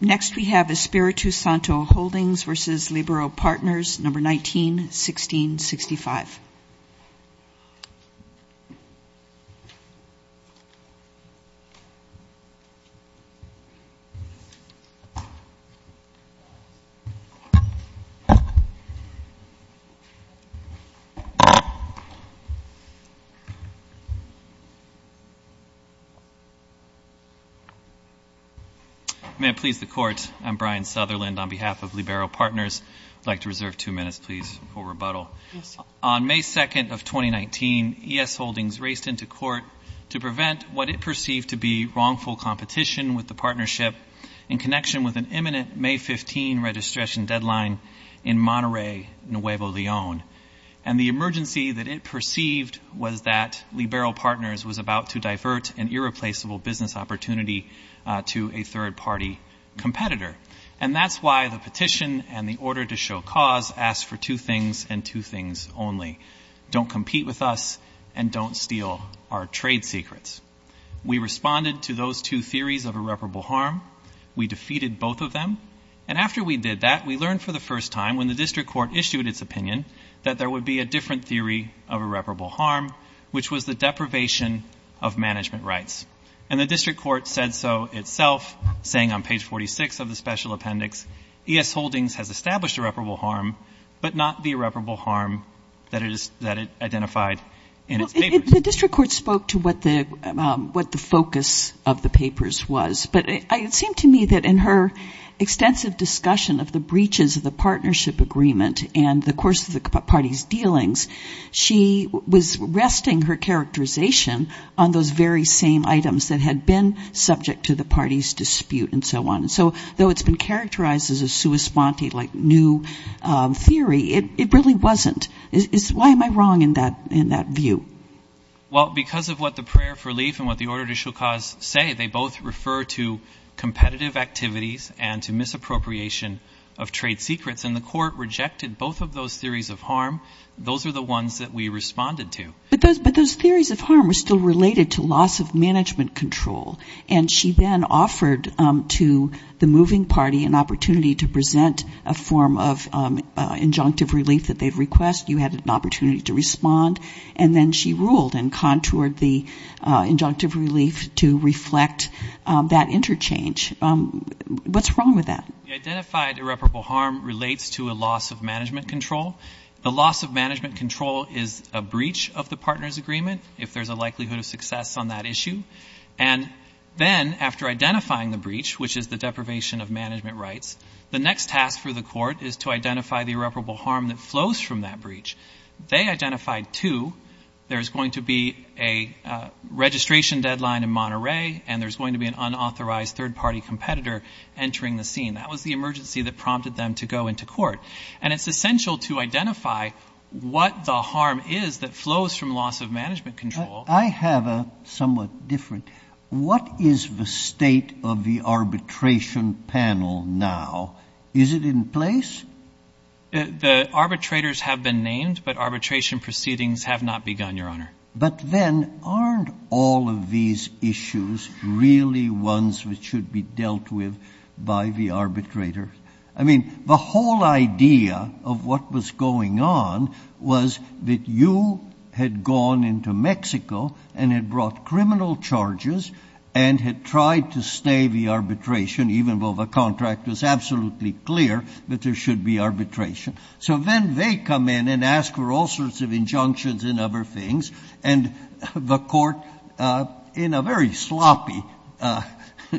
Next we have Espiritu Santo Holdings v. Libero Partners, No. 19-1665. May it please the Court, I'm Brian Sutherland on behalf of Libero Partners. I'd like to reserve two minutes, please, for rebuttal. On May 2nd of 2019, ES Holdings raced into court to prevent what it perceived to be wrongful competition with the partnership in connection with an imminent May 15 registration deadline in Monterey, Nuevo Leon. And the emergency that it perceived was that Libero Partners was about to divert an irreplaceable business opportunity to a third-party competitor. And that's why the petition and the order to show cause asked for two things and two things only. Don't compete with us and don't steal our trade secrets. We responded to those two theories of irreparable harm. We defeated both of them. And after we did that, we learned for the first time when the district court issued its opinion that there would be a different theory of irreparable harm, which was the deprivation of management rights. And the district court said so itself, saying on page 46 of the special appendix, ES Holdings has established irreparable harm, but not the irreparable harm that it identified in its papers. The district court spoke to what the focus of the papers was, but it seemed to me that in her extensive discussion of the breaches of the partnership agreement and the course of the party's dealings, she was resting her characterization on those very same items that had been subject to the party's dispute and so on. And so though it's been characterized as a sua sponte, like new theory, it really wasn't. Why am I wrong in that view? Well, because of what the prayer for relief and what the order to show cause say, they both refer to competitive activities and to misappropriation of trade secrets. And the court rejected both of those theories of harm. Those are the ones that we responded to. But those theories of harm are still related to loss of management control. And she then offered to the moving party an opportunity to present a form of injunctive relief that they'd request. You had an opportunity to respond. And then she ruled and contoured the injunctive relief to reflect that interchange. What's wrong with that? The identified irreparable harm relates to a loss of management control. The loss of management control is a breach of the partner's agreement, if there's a likelihood of success on that issue. And then after identifying the breach, which is the deprivation of management rights, the next task for the court is to identify the irreparable harm that flows from that breach. They identified two. There's going to be a registration deadline in Monterey, and there's going to be an unauthorized third-party competitor entering the scene. That was the emergency that prompted them to go into court. And it's essential to identify what the harm is that flows from loss of management control. I have a somewhat different. What is the state of the arbitration panel now? Is it in place? The arbitrators have been named, but arbitration proceedings have not begun, Your Honor. But then aren't all of these issues really ones which should be dealt with by the arbitrator? I mean, the whole idea of what was going on was that you had gone into Mexico and had brought criminal charges and had tried to stay the arbitration, even though the contract was absolutely clear that there should be arbitration. So then they come in and ask for all sorts of injunctions and other things, and the Court, in a very sloppy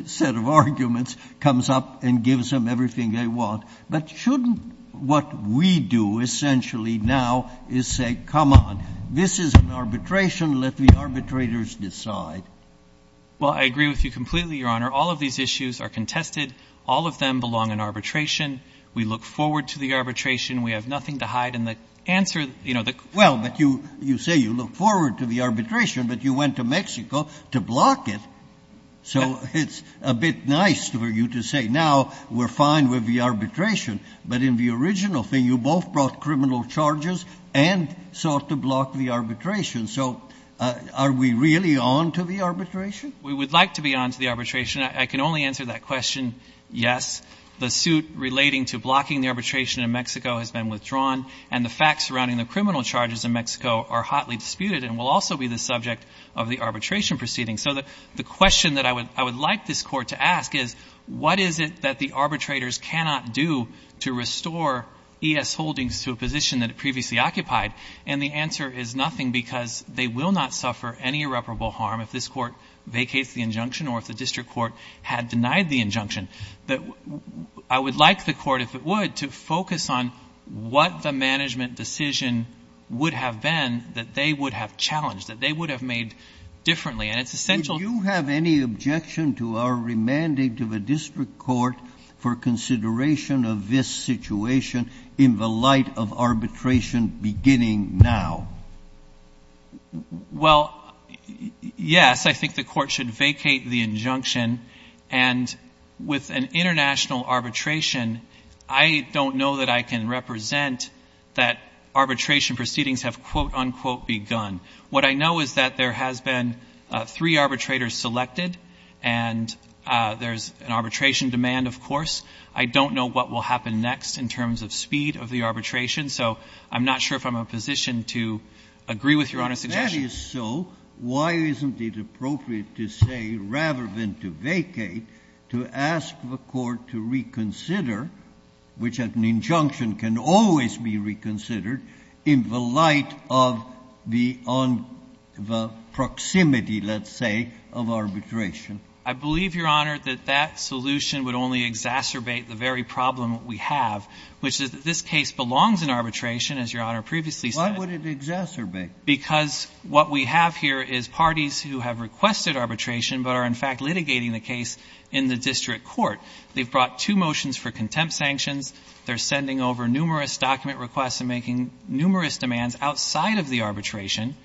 set of arguments, comes up and gives them everything they want. But shouldn't what we do essentially now is say, come on, this is an arbitration. Let the arbitrators decide. Well, I agree with you completely, Your Honor. All of these issues are contested. All of them belong in arbitration. We look forward to the arbitration. We have nothing to hide. Well, but you say you look forward to the arbitration, but you went to Mexico to block it. So it's a bit nice for you to say now we're fine with the arbitration. But in the original thing, you both brought criminal charges and sought to block the arbitration. So are we really on to the arbitration? We would like to be on to the arbitration. I can only answer that question, yes. The suit relating to blocking the arbitration in Mexico has been withdrawn, and the facts surrounding the criminal charges in Mexico are hotly disputed and will also be the subject of the arbitration proceeding. So the question that I would like this Court to ask is, what is it that the arbitrators cannot do to restore E.S. Holdings to a position that it previously occupied? And the answer is nothing because they will not suffer any irreparable harm if this Court vacates the injunction or if the district court had denied the injunction. I would like the Court, if it would, to focus on what the management decision would have been that they would have challenged, that they would have made differently. And it's essential. Do you have any objection to our remanding to the district court for consideration of this situation in the light of arbitration beginning now? Well, yes. I think the Court should vacate the injunction. And with an international arbitration, I don't know that I can represent that arbitration proceedings have, quote, unquote, begun. What I know is that there has been three arbitrators selected, and there's an arbitration demand, of course. I don't know what will happen next in terms of speed of the arbitration. So I'm not sure if I'm in a position to agree with Your Honor's suggestion. If that is so, why isn't it appropriate to say, rather than to vacate, to ask the Court to reconsider, which an injunction can always be reconsidered, in the light of the proximity, let's say, of arbitration? I believe, Your Honor, that that solution would only exacerbate the very problem we have, which is that this case belongs in arbitration, as Your Honor previously Why would it exacerbate? Because what we have here is parties who have requested arbitration but are, in fact, litigating the case in the district court. They've brought two motions for contempt sanctions. They're sending over numerous document requests and making numerous demands outside of the arbitration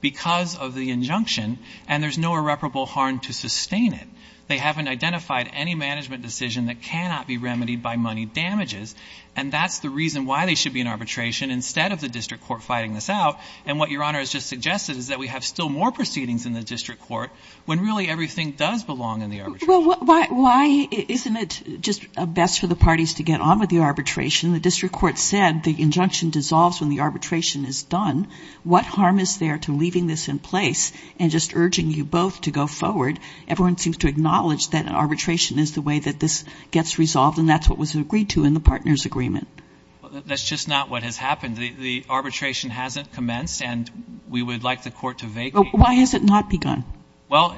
because of the injunction, and there's no irreparable harm to sustain it. They haven't identified any management decision that cannot be remedied by money damages, and that's the reason why they should be in arbitration instead of the district court fighting this out. And what Your Honor has just suggested is that we have still more proceedings in the district court when really everything does belong in the arbitration. Well, why isn't it just best for the parties to get on with the arbitration? The district court said the injunction dissolves when the arbitration is done. What harm is there to leaving this in place and just urging you both to go forward? Everyone seems to acknowledge that an arbitration is the way that this gets resolved, and that's what was agreed to in the partners' agreement. That's just not what has happened. The arbitration hasn't commenced, and we would like the court to vacate. Why has it not begun? Well,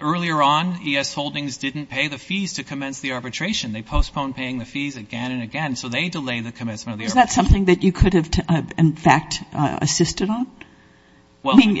earlier on, E.S. Holdings didn't pay the fees to commence the arbitration. They postponed paying the fees again and again, so they delayed the commencement of the arbitration. Is that something that you could have, in fact, assisted on? Well, I don't know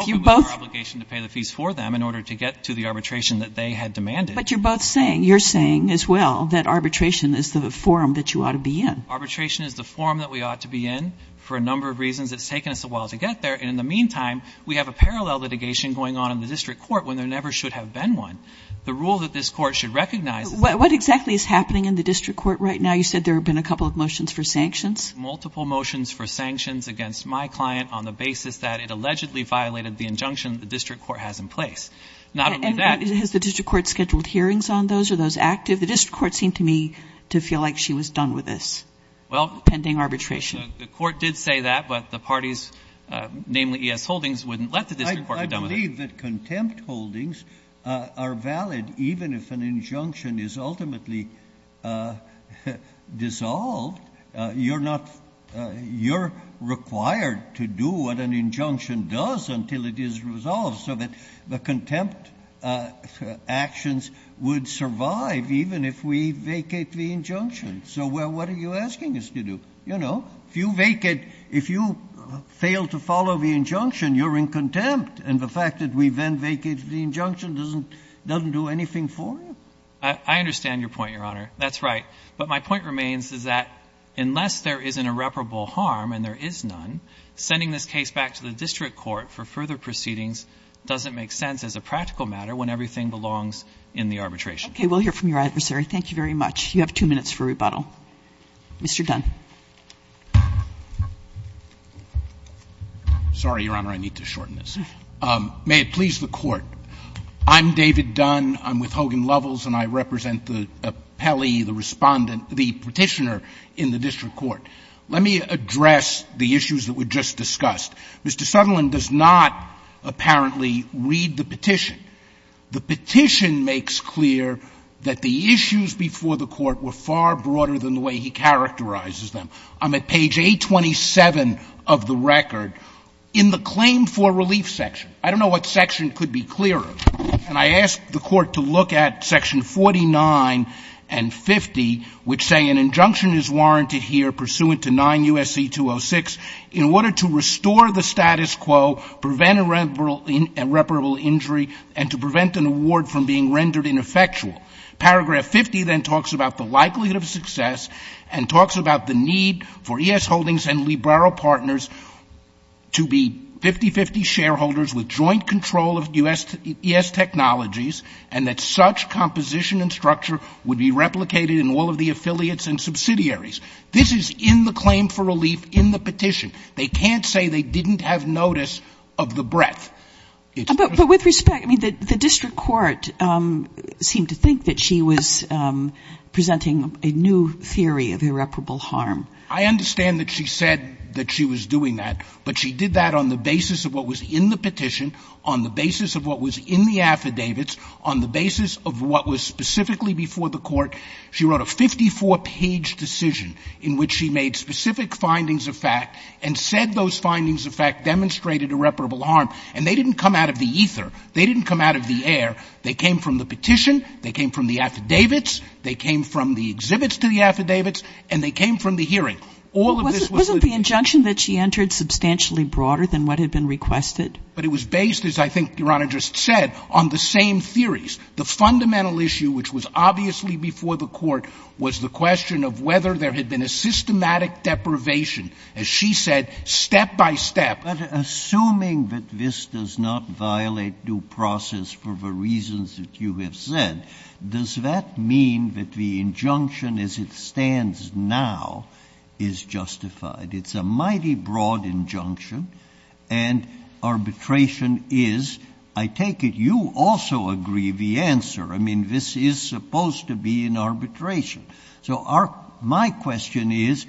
if it was our obligation to pay the fees for them in order to get to the arbitration that they had demanded. But you're both saying, you're saying as well, that arbitration is the forum that you ought to be in. Arbitration is the forum that we ought to be in for a number of reasons. It's taken us a while to get there. And in the meantime, we have a parallel litigation going on in the district court when there never should have been one. The rule that this Court should recognize is that the court should be able to do that. What exactly is happening in the district court right now? You said there have been a couple of motions for sanctions. Multiple motions for sanctions against my client on the basis that it allegedly violated the injunction that the district court has in place. Not only that — Has the district court scheduled hearings on those? Are those active? The district court seemed to me to feel like she was done with this. Pending arbitration. The court did say that, but the parties, namely E.S. Holdings, wouldn't let the district court get done with it. I believe that contempt holdings are valid even if an injunction is ultimately dissolved. You're not — you're required to do what an injunction does until it is resolved. So that the contempt actions would survive even if we vacate the injunction. So what are you asking us to do? You know, if you vacate — if you fail to follow the injunction, you're in contempt, and the fact that we then vacate the injunction doesn't do anything for you. I understand your point, Your Honor. That's right. But my point remains is that unless there is an irreparable harm, and there is none, sending this case back to the district court for further proceedings doesn't make sense as a practical matter when everything belongs in the arbitration. Okay. We'll hear from your adversary. Thank you very much. You have two minutes for rebuttal. Mr. Dunn. Sorry, Your Honor. I need to shorten this. May it please the Court. I'm David Dunn. I'm with Hogan Lovells, and I represent the appellee, the Respondent — the Petitioner in the district court. Let me address the issues that were just discussed. Mr. Sutherland does not apparently read the petition. The petition makes clear that the issues before the Court were far broader than the way he characterizes them. I'm at page 827 of the record in the claim for relief section. I don't know what section could be clearer, and I ask the Court to look at section 49 and 50, which say an injunction is warranted here pursuant to 9 U.S.C. 206 in order to restore the status quo, prevent irreparable injury, and to prevent an award from being rendered ineffectual. Paragraph 50 then talks about the likelihood of success and talks about the need for E.S. Holdings and Librero partners to be 50-50 shareholders with joint control of E.S. Technologies and that such composition and structure would be replicated in all of the affiliates and subsidiaries. This is in the claim for relief in the petition. They can't say they didn't have notice of the breadth. But with respect, I mean, the district court seemed to think that she was presenting a new theory of irreparable harm. I understand that she said that she was doing that, but she did that on the basis of what was in the petition, on the basis of what was in the affidavits, on the basis of what was specifically before the court. She wrote a 54-page decision in which she made specific findings of fact and said those findings of fact demonstrated irreparable harm. And they didn't come out of the ether. They didn't come out of the air. They came from the petition. They came from the affidavits. They came from the exhibits to the affidavits. And they came from the hearing. All of this was the ---- But wasn't the injunction that she entered substantially broader than what had been requested? But it was based, as I think Your Honor just said, on the same theories. The fundamental issue, which was obviously before the court, was the question of whether there had been a systematic deprivation. As she said, step by step. But assuming that this does not violate due process for the reasons that you have said, does that mean that the injunction as it stands now is justified? It's a mighty broad injunction. And arbitration is, I take it, you also agree the answer. I mean, this is supposed to be an arbitration. So my question is,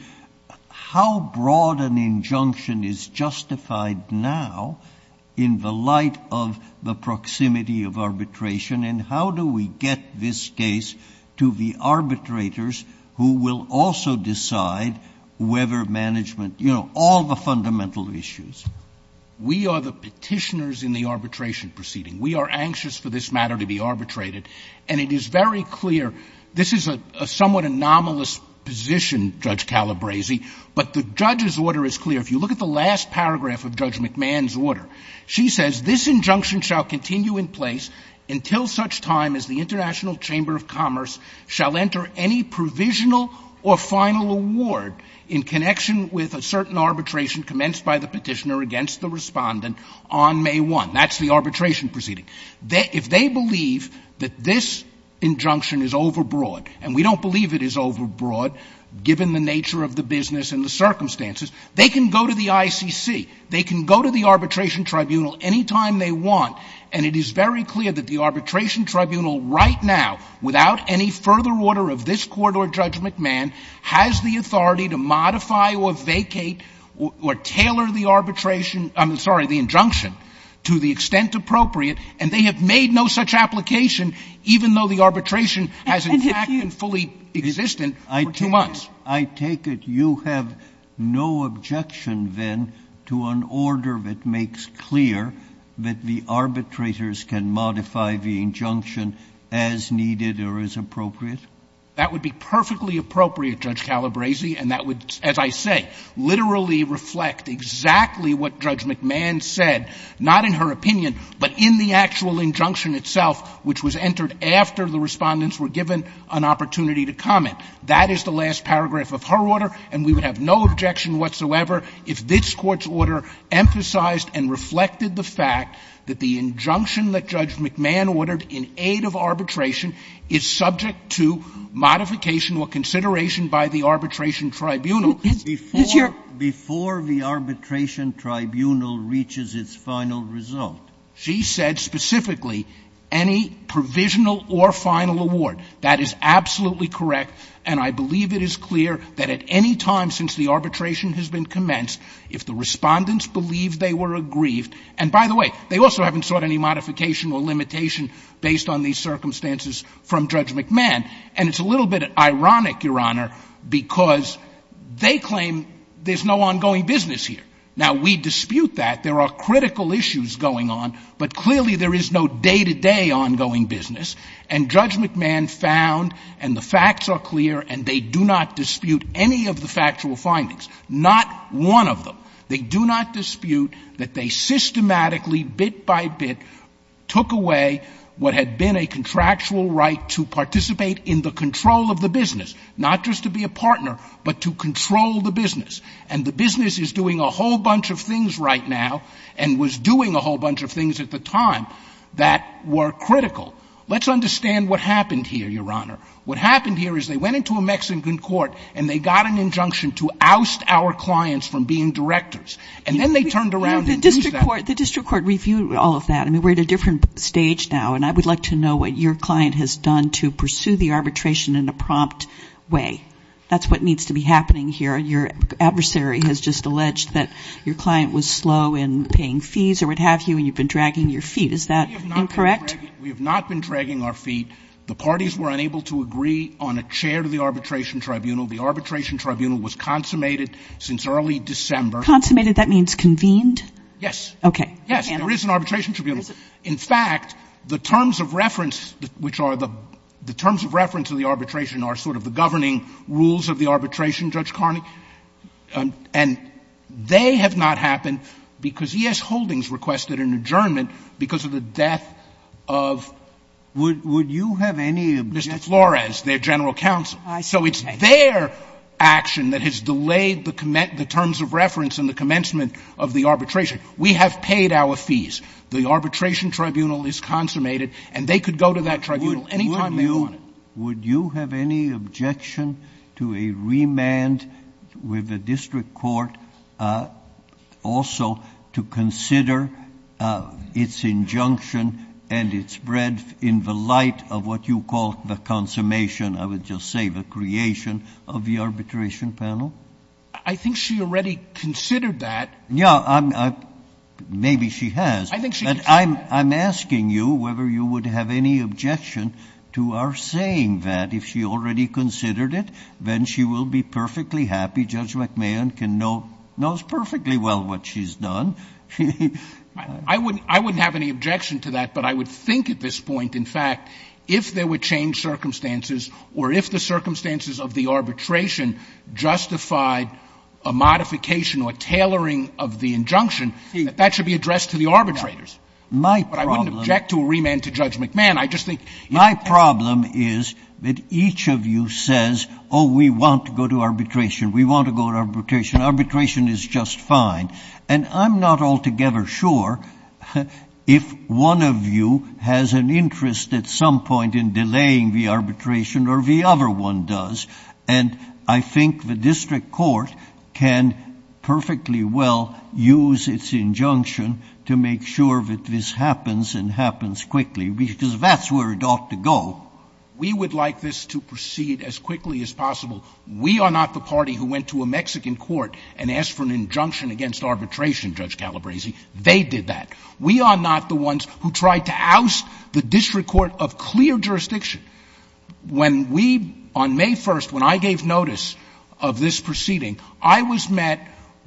how broad an injunction is justified now in the light of the case to the arbitrators who will also decide whether management, you know, all the fundamental issues? We are the petitioners in the arbitration proceeding. We are anxious for this matter to be arbitrated. And it is very clear. This is a somewhat anomalous position, Judge Calabresi. But the judge's order is clear. If you look at the last paragraph of Judge McMahon's order, she says, this injunction shall continue in place until such time as the International Chamber of Commerce shall enter any provisional or final award in connection with a certain arbitration commenced by the petitioner against the respondent on May 1. That's the arbitration proceeding. If they believe that this injunction is overbroad, and we don't believe it is overbroad given the nature of the business and the circumstances, they can go to the ICC. They can go to the arbitration tribunal any time they want. And it is very clear that the arbitration tribunal right now, without any further order of this Court or Judge McMahon, has the authority to modify or vacate or tailor the arbitration – I'm sorry, the injunction to the extent appropriate. And they have made no such application, even though the arbitration has, in fact, been fully existent for two months. I take it you have no objection, then, to an order that makes clear that the arbitrators can modify the injunction as needed or as appropriate? That would be perfectly appropriate, Judge Calabresi, and that would, as I say, literally reflect exactly what Judge McMahon said, not in her opinion, but in the actual injunction itself, which was entered after the respondents were given an opportunity to comment. That is the last paragraph of her order. And we would have no objection whatsoever if this Court's order emphasized and reflected the fact that the injunction that Judge McMahon ordered in aid of arbitration is subject to modification or consideration by the arbitration tribunal. Before the arbitration tribunal reaches its final result, she said specifically any provisional or final award. That is absolutely correct, and I believe it is clear that at any time since the arbitration has been commenced, if the respondents believe they were aggrieved — and by the way, they also haven't sought any modification or limitation based on these circumstances from Judge McMahon. And it's a little bit ironic, Your Honor, because they claim there's no ongoing business here. Now, we dispute that. There are critical issues going on, but clearly there is no day-to-day ongoing business. And Judge McMahon found, and the facts are clear, and they do not dispute any of the factual findings, not one of them. They do not dispute that they systematically, bit by bit, took away what had been a contractual right to participate in the control of the business, not just to be a partner, but to control the business. And the business is doing a whole bunch of things right now and was doing a whole And they are critical. Let's understand what happened here, Your Honor. What happened here is they went into a Mexican court and they got an injunction to oust our clients from being directors. And then they turned around and used that. The district court reviewed all of that. I mean, we're at a different stage now, and I would like to know what your client has done to pursue the arbitration in a prompt way. That's what needs to be happening here. Your adversary has just alleged that your client was slow in paying fees or what have you, and you've been dragging your feet. Is that incorrect? We have not been dragging our feet. The parties were unable to agree on a chair to the arbitration tribunal. The arbitration tribunal was consummated since early December. Consummated? That means convened? Yes. Okay. Yes, there is an arbitration tribunal. In fact, the terms of reference, which are the terms of reference of the arbitration are sort of the governing rules of the arbitration, Judge Carney. And they have not happened because E.S. Holdings requested an adjournment because of the death of Mr. Flores, their general counsel. So it's their action that has delayed the terms of reference and the commencement of the arbitration. We have paid our fees. The arbitration tribunal is consummated, and they could go to that tribunal any time they wanted. Would you have any objection to a remand with the district court also to consider its injunction and its breadth in the light of what you call the consummation of, I would just say, the creation of the arbitration panel? I think she already considered that. Yeah. Maybe she has. I think she has. But I'm asking you whether you would have any objection to our saying that if she already considered it, then she will be perfectly happy. Judge McMahon knows perfectly well what she's done. I wouldn't have any objection to that, but I would think at this point, in fact, if there were changed circumstances or if the circumstances of the arbitration justified a modification or tailoring of the injunction, that that should be addressed to the arbitrators. But I wouldn't object to a remand to Judge McMahon. My problem is that each of you says, oh, we want to go to arbitration. We want to go to arbitration. Arbitration is just fine. And I'm not altogether sure if one of you has an interest at some point in delaying the arbitration or the other one does. And I think the district court can perfectly well use its injunction to make sure that this happens and happens quickly, because that's where it ought to go. We would like this to proceed as quickly as possible. We are not the party who went to a Mexican court and asked for an injunction against arbitration, Judge Calabresi. They did that. We are not the ones who tried to oust the district court of clear jurisdiction. When we, on May 1st, when I gave notice of this proceeding, I was met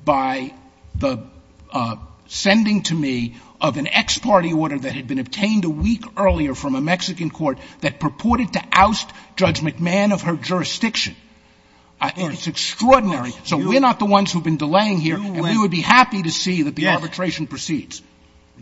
by the sending to me of an ex-party order that had been obtained a week earlier from a It's extraordinary. So we're not the ones who have been delaying here, and we would be happy to see that the arbitration proceeds.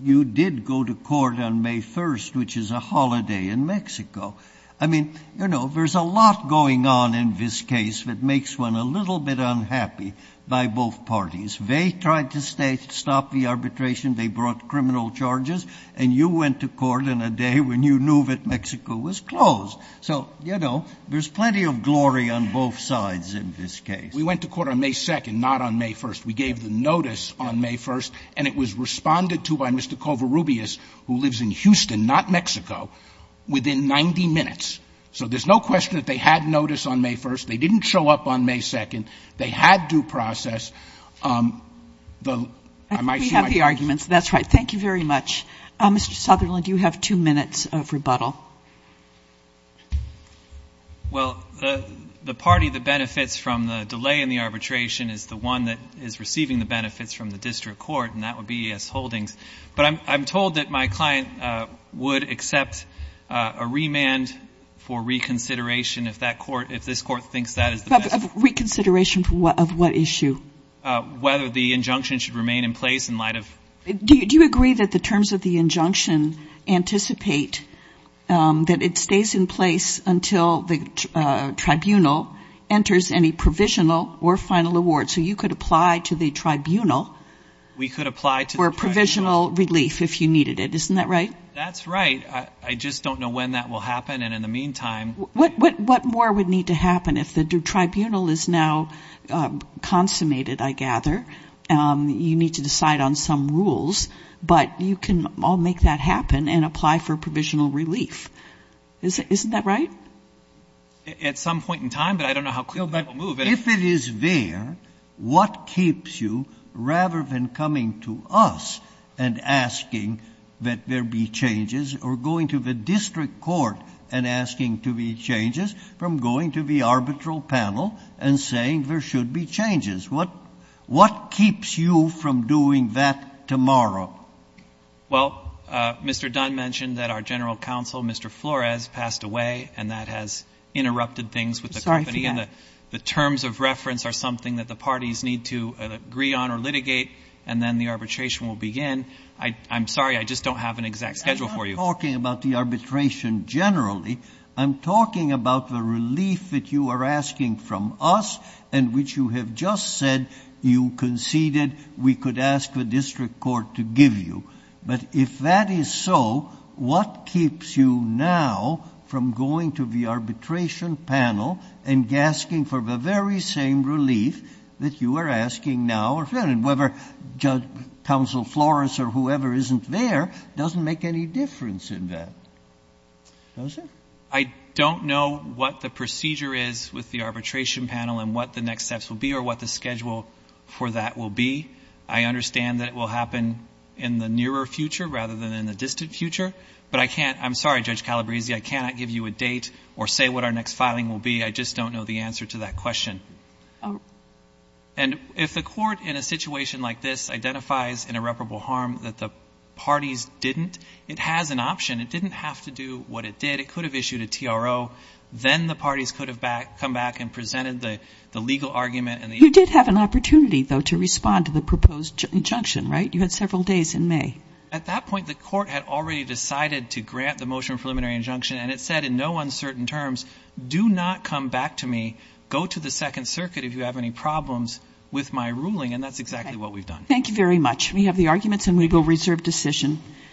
You did go to court on May 1st, which is a holiday in Mexico. I mean, you know, there's a lot going on in this case that makes one a little bit unhappy by both parties. They tried to stop the arbitration. They brought criminal charges. And you went to court on a day when you knew that Mexico was closed. So, you know, there's plenty of glory on both sides in this case. We went to court on May 2nd, not on May 1st. We gave the notice on May 1st, and it was responded to by Mr. Covarrubias, who lives in Houston, not Mexico, within 90 minutes. So there's no question that they had notice on May 1st. They didn't show up on May 2nd. They had due process. I might see my time. We have the arguments. That's right. Thank you very much. Mr. Sutherland, you have two minutes of rebuttal. Well, the party that benefits from the delay in the arbitration is the one that is receiving the benefits from the district court, and that would be E.S. Holdings. But I'm told that my client would accept a remand for reconsideration if that court, if this court thinks that is the best. Reconsideration of what issue? Whether the injunction should remain in place in light of. Do you agree that the terms of the injunction anticipate that it stays in place until the tribunal enters any provisional or final award? So you could apply to the tribunal. We could apply to the tribunal. For provisional relief if you needed it. Isn't that right? That's right. I just don't know when that will happen, and in the meantime. What more would need to happen if the tribunal is now consummated, I gather? You need to decide on some rules, but you can all make that happen and apply for provisional relief. Isn't that right? At some point in time, but I don't know how quickly that will move. If it is there, what keeps you, rather than coming to us and asking that there be changes, or going to the district court and asking to be changes, from going to the arbitral panel and saying there should be changes? What keeps you from doing that tomorrow? Well, Mr. Dunn mentioned that our general counsel, Mr. Flores, passed away, and that has interrupted things with the company. I'm sorry for that. The terms of reference are something that the parties need to agree on or litigate, and then the arbitration will begin. I'm sorry, I just don't have an exact schedule for you. I'm not talking about the arbitration generally. I'm talking about the relief that you are asking from us, and which you have just said you conceded we could ask the district court to give you. But if that is so, what keeps you now from going to the arbitration panel and asking for the very same relief that you are asking now? And whether Counsel Flores or whoever isn't there doesn't make any difference in that, does it? I don't know what the procedure is with the arbitration panel and what the next steps will be or what the schedule for that will be. I understand that it will happen in the nearer future rather than in the distant future, but I can't — I'm sorry, Judge Calabresi, I cannot give you a date or say what our next filing will be. I just don't know the answer to that question. And if the court in a situation like this identifies an irreparable harm that the parties didn't, it has an option. It didn't have to do what it did. It could have issued a TRO. Then the parties could have come back and presented the legal argument. You did have an opportunity, though, to respond to the proposed injunction, right? You had several days in May. At that point, the court had already decided to grant the motion of preliminary injunction, and it said in no uncertain terms, do not come back to me. Go to the Second Circuit if you have any problems with my ruling. And that's exactly what we've done. Thank you very much. We have the arguments and we will reserve decision.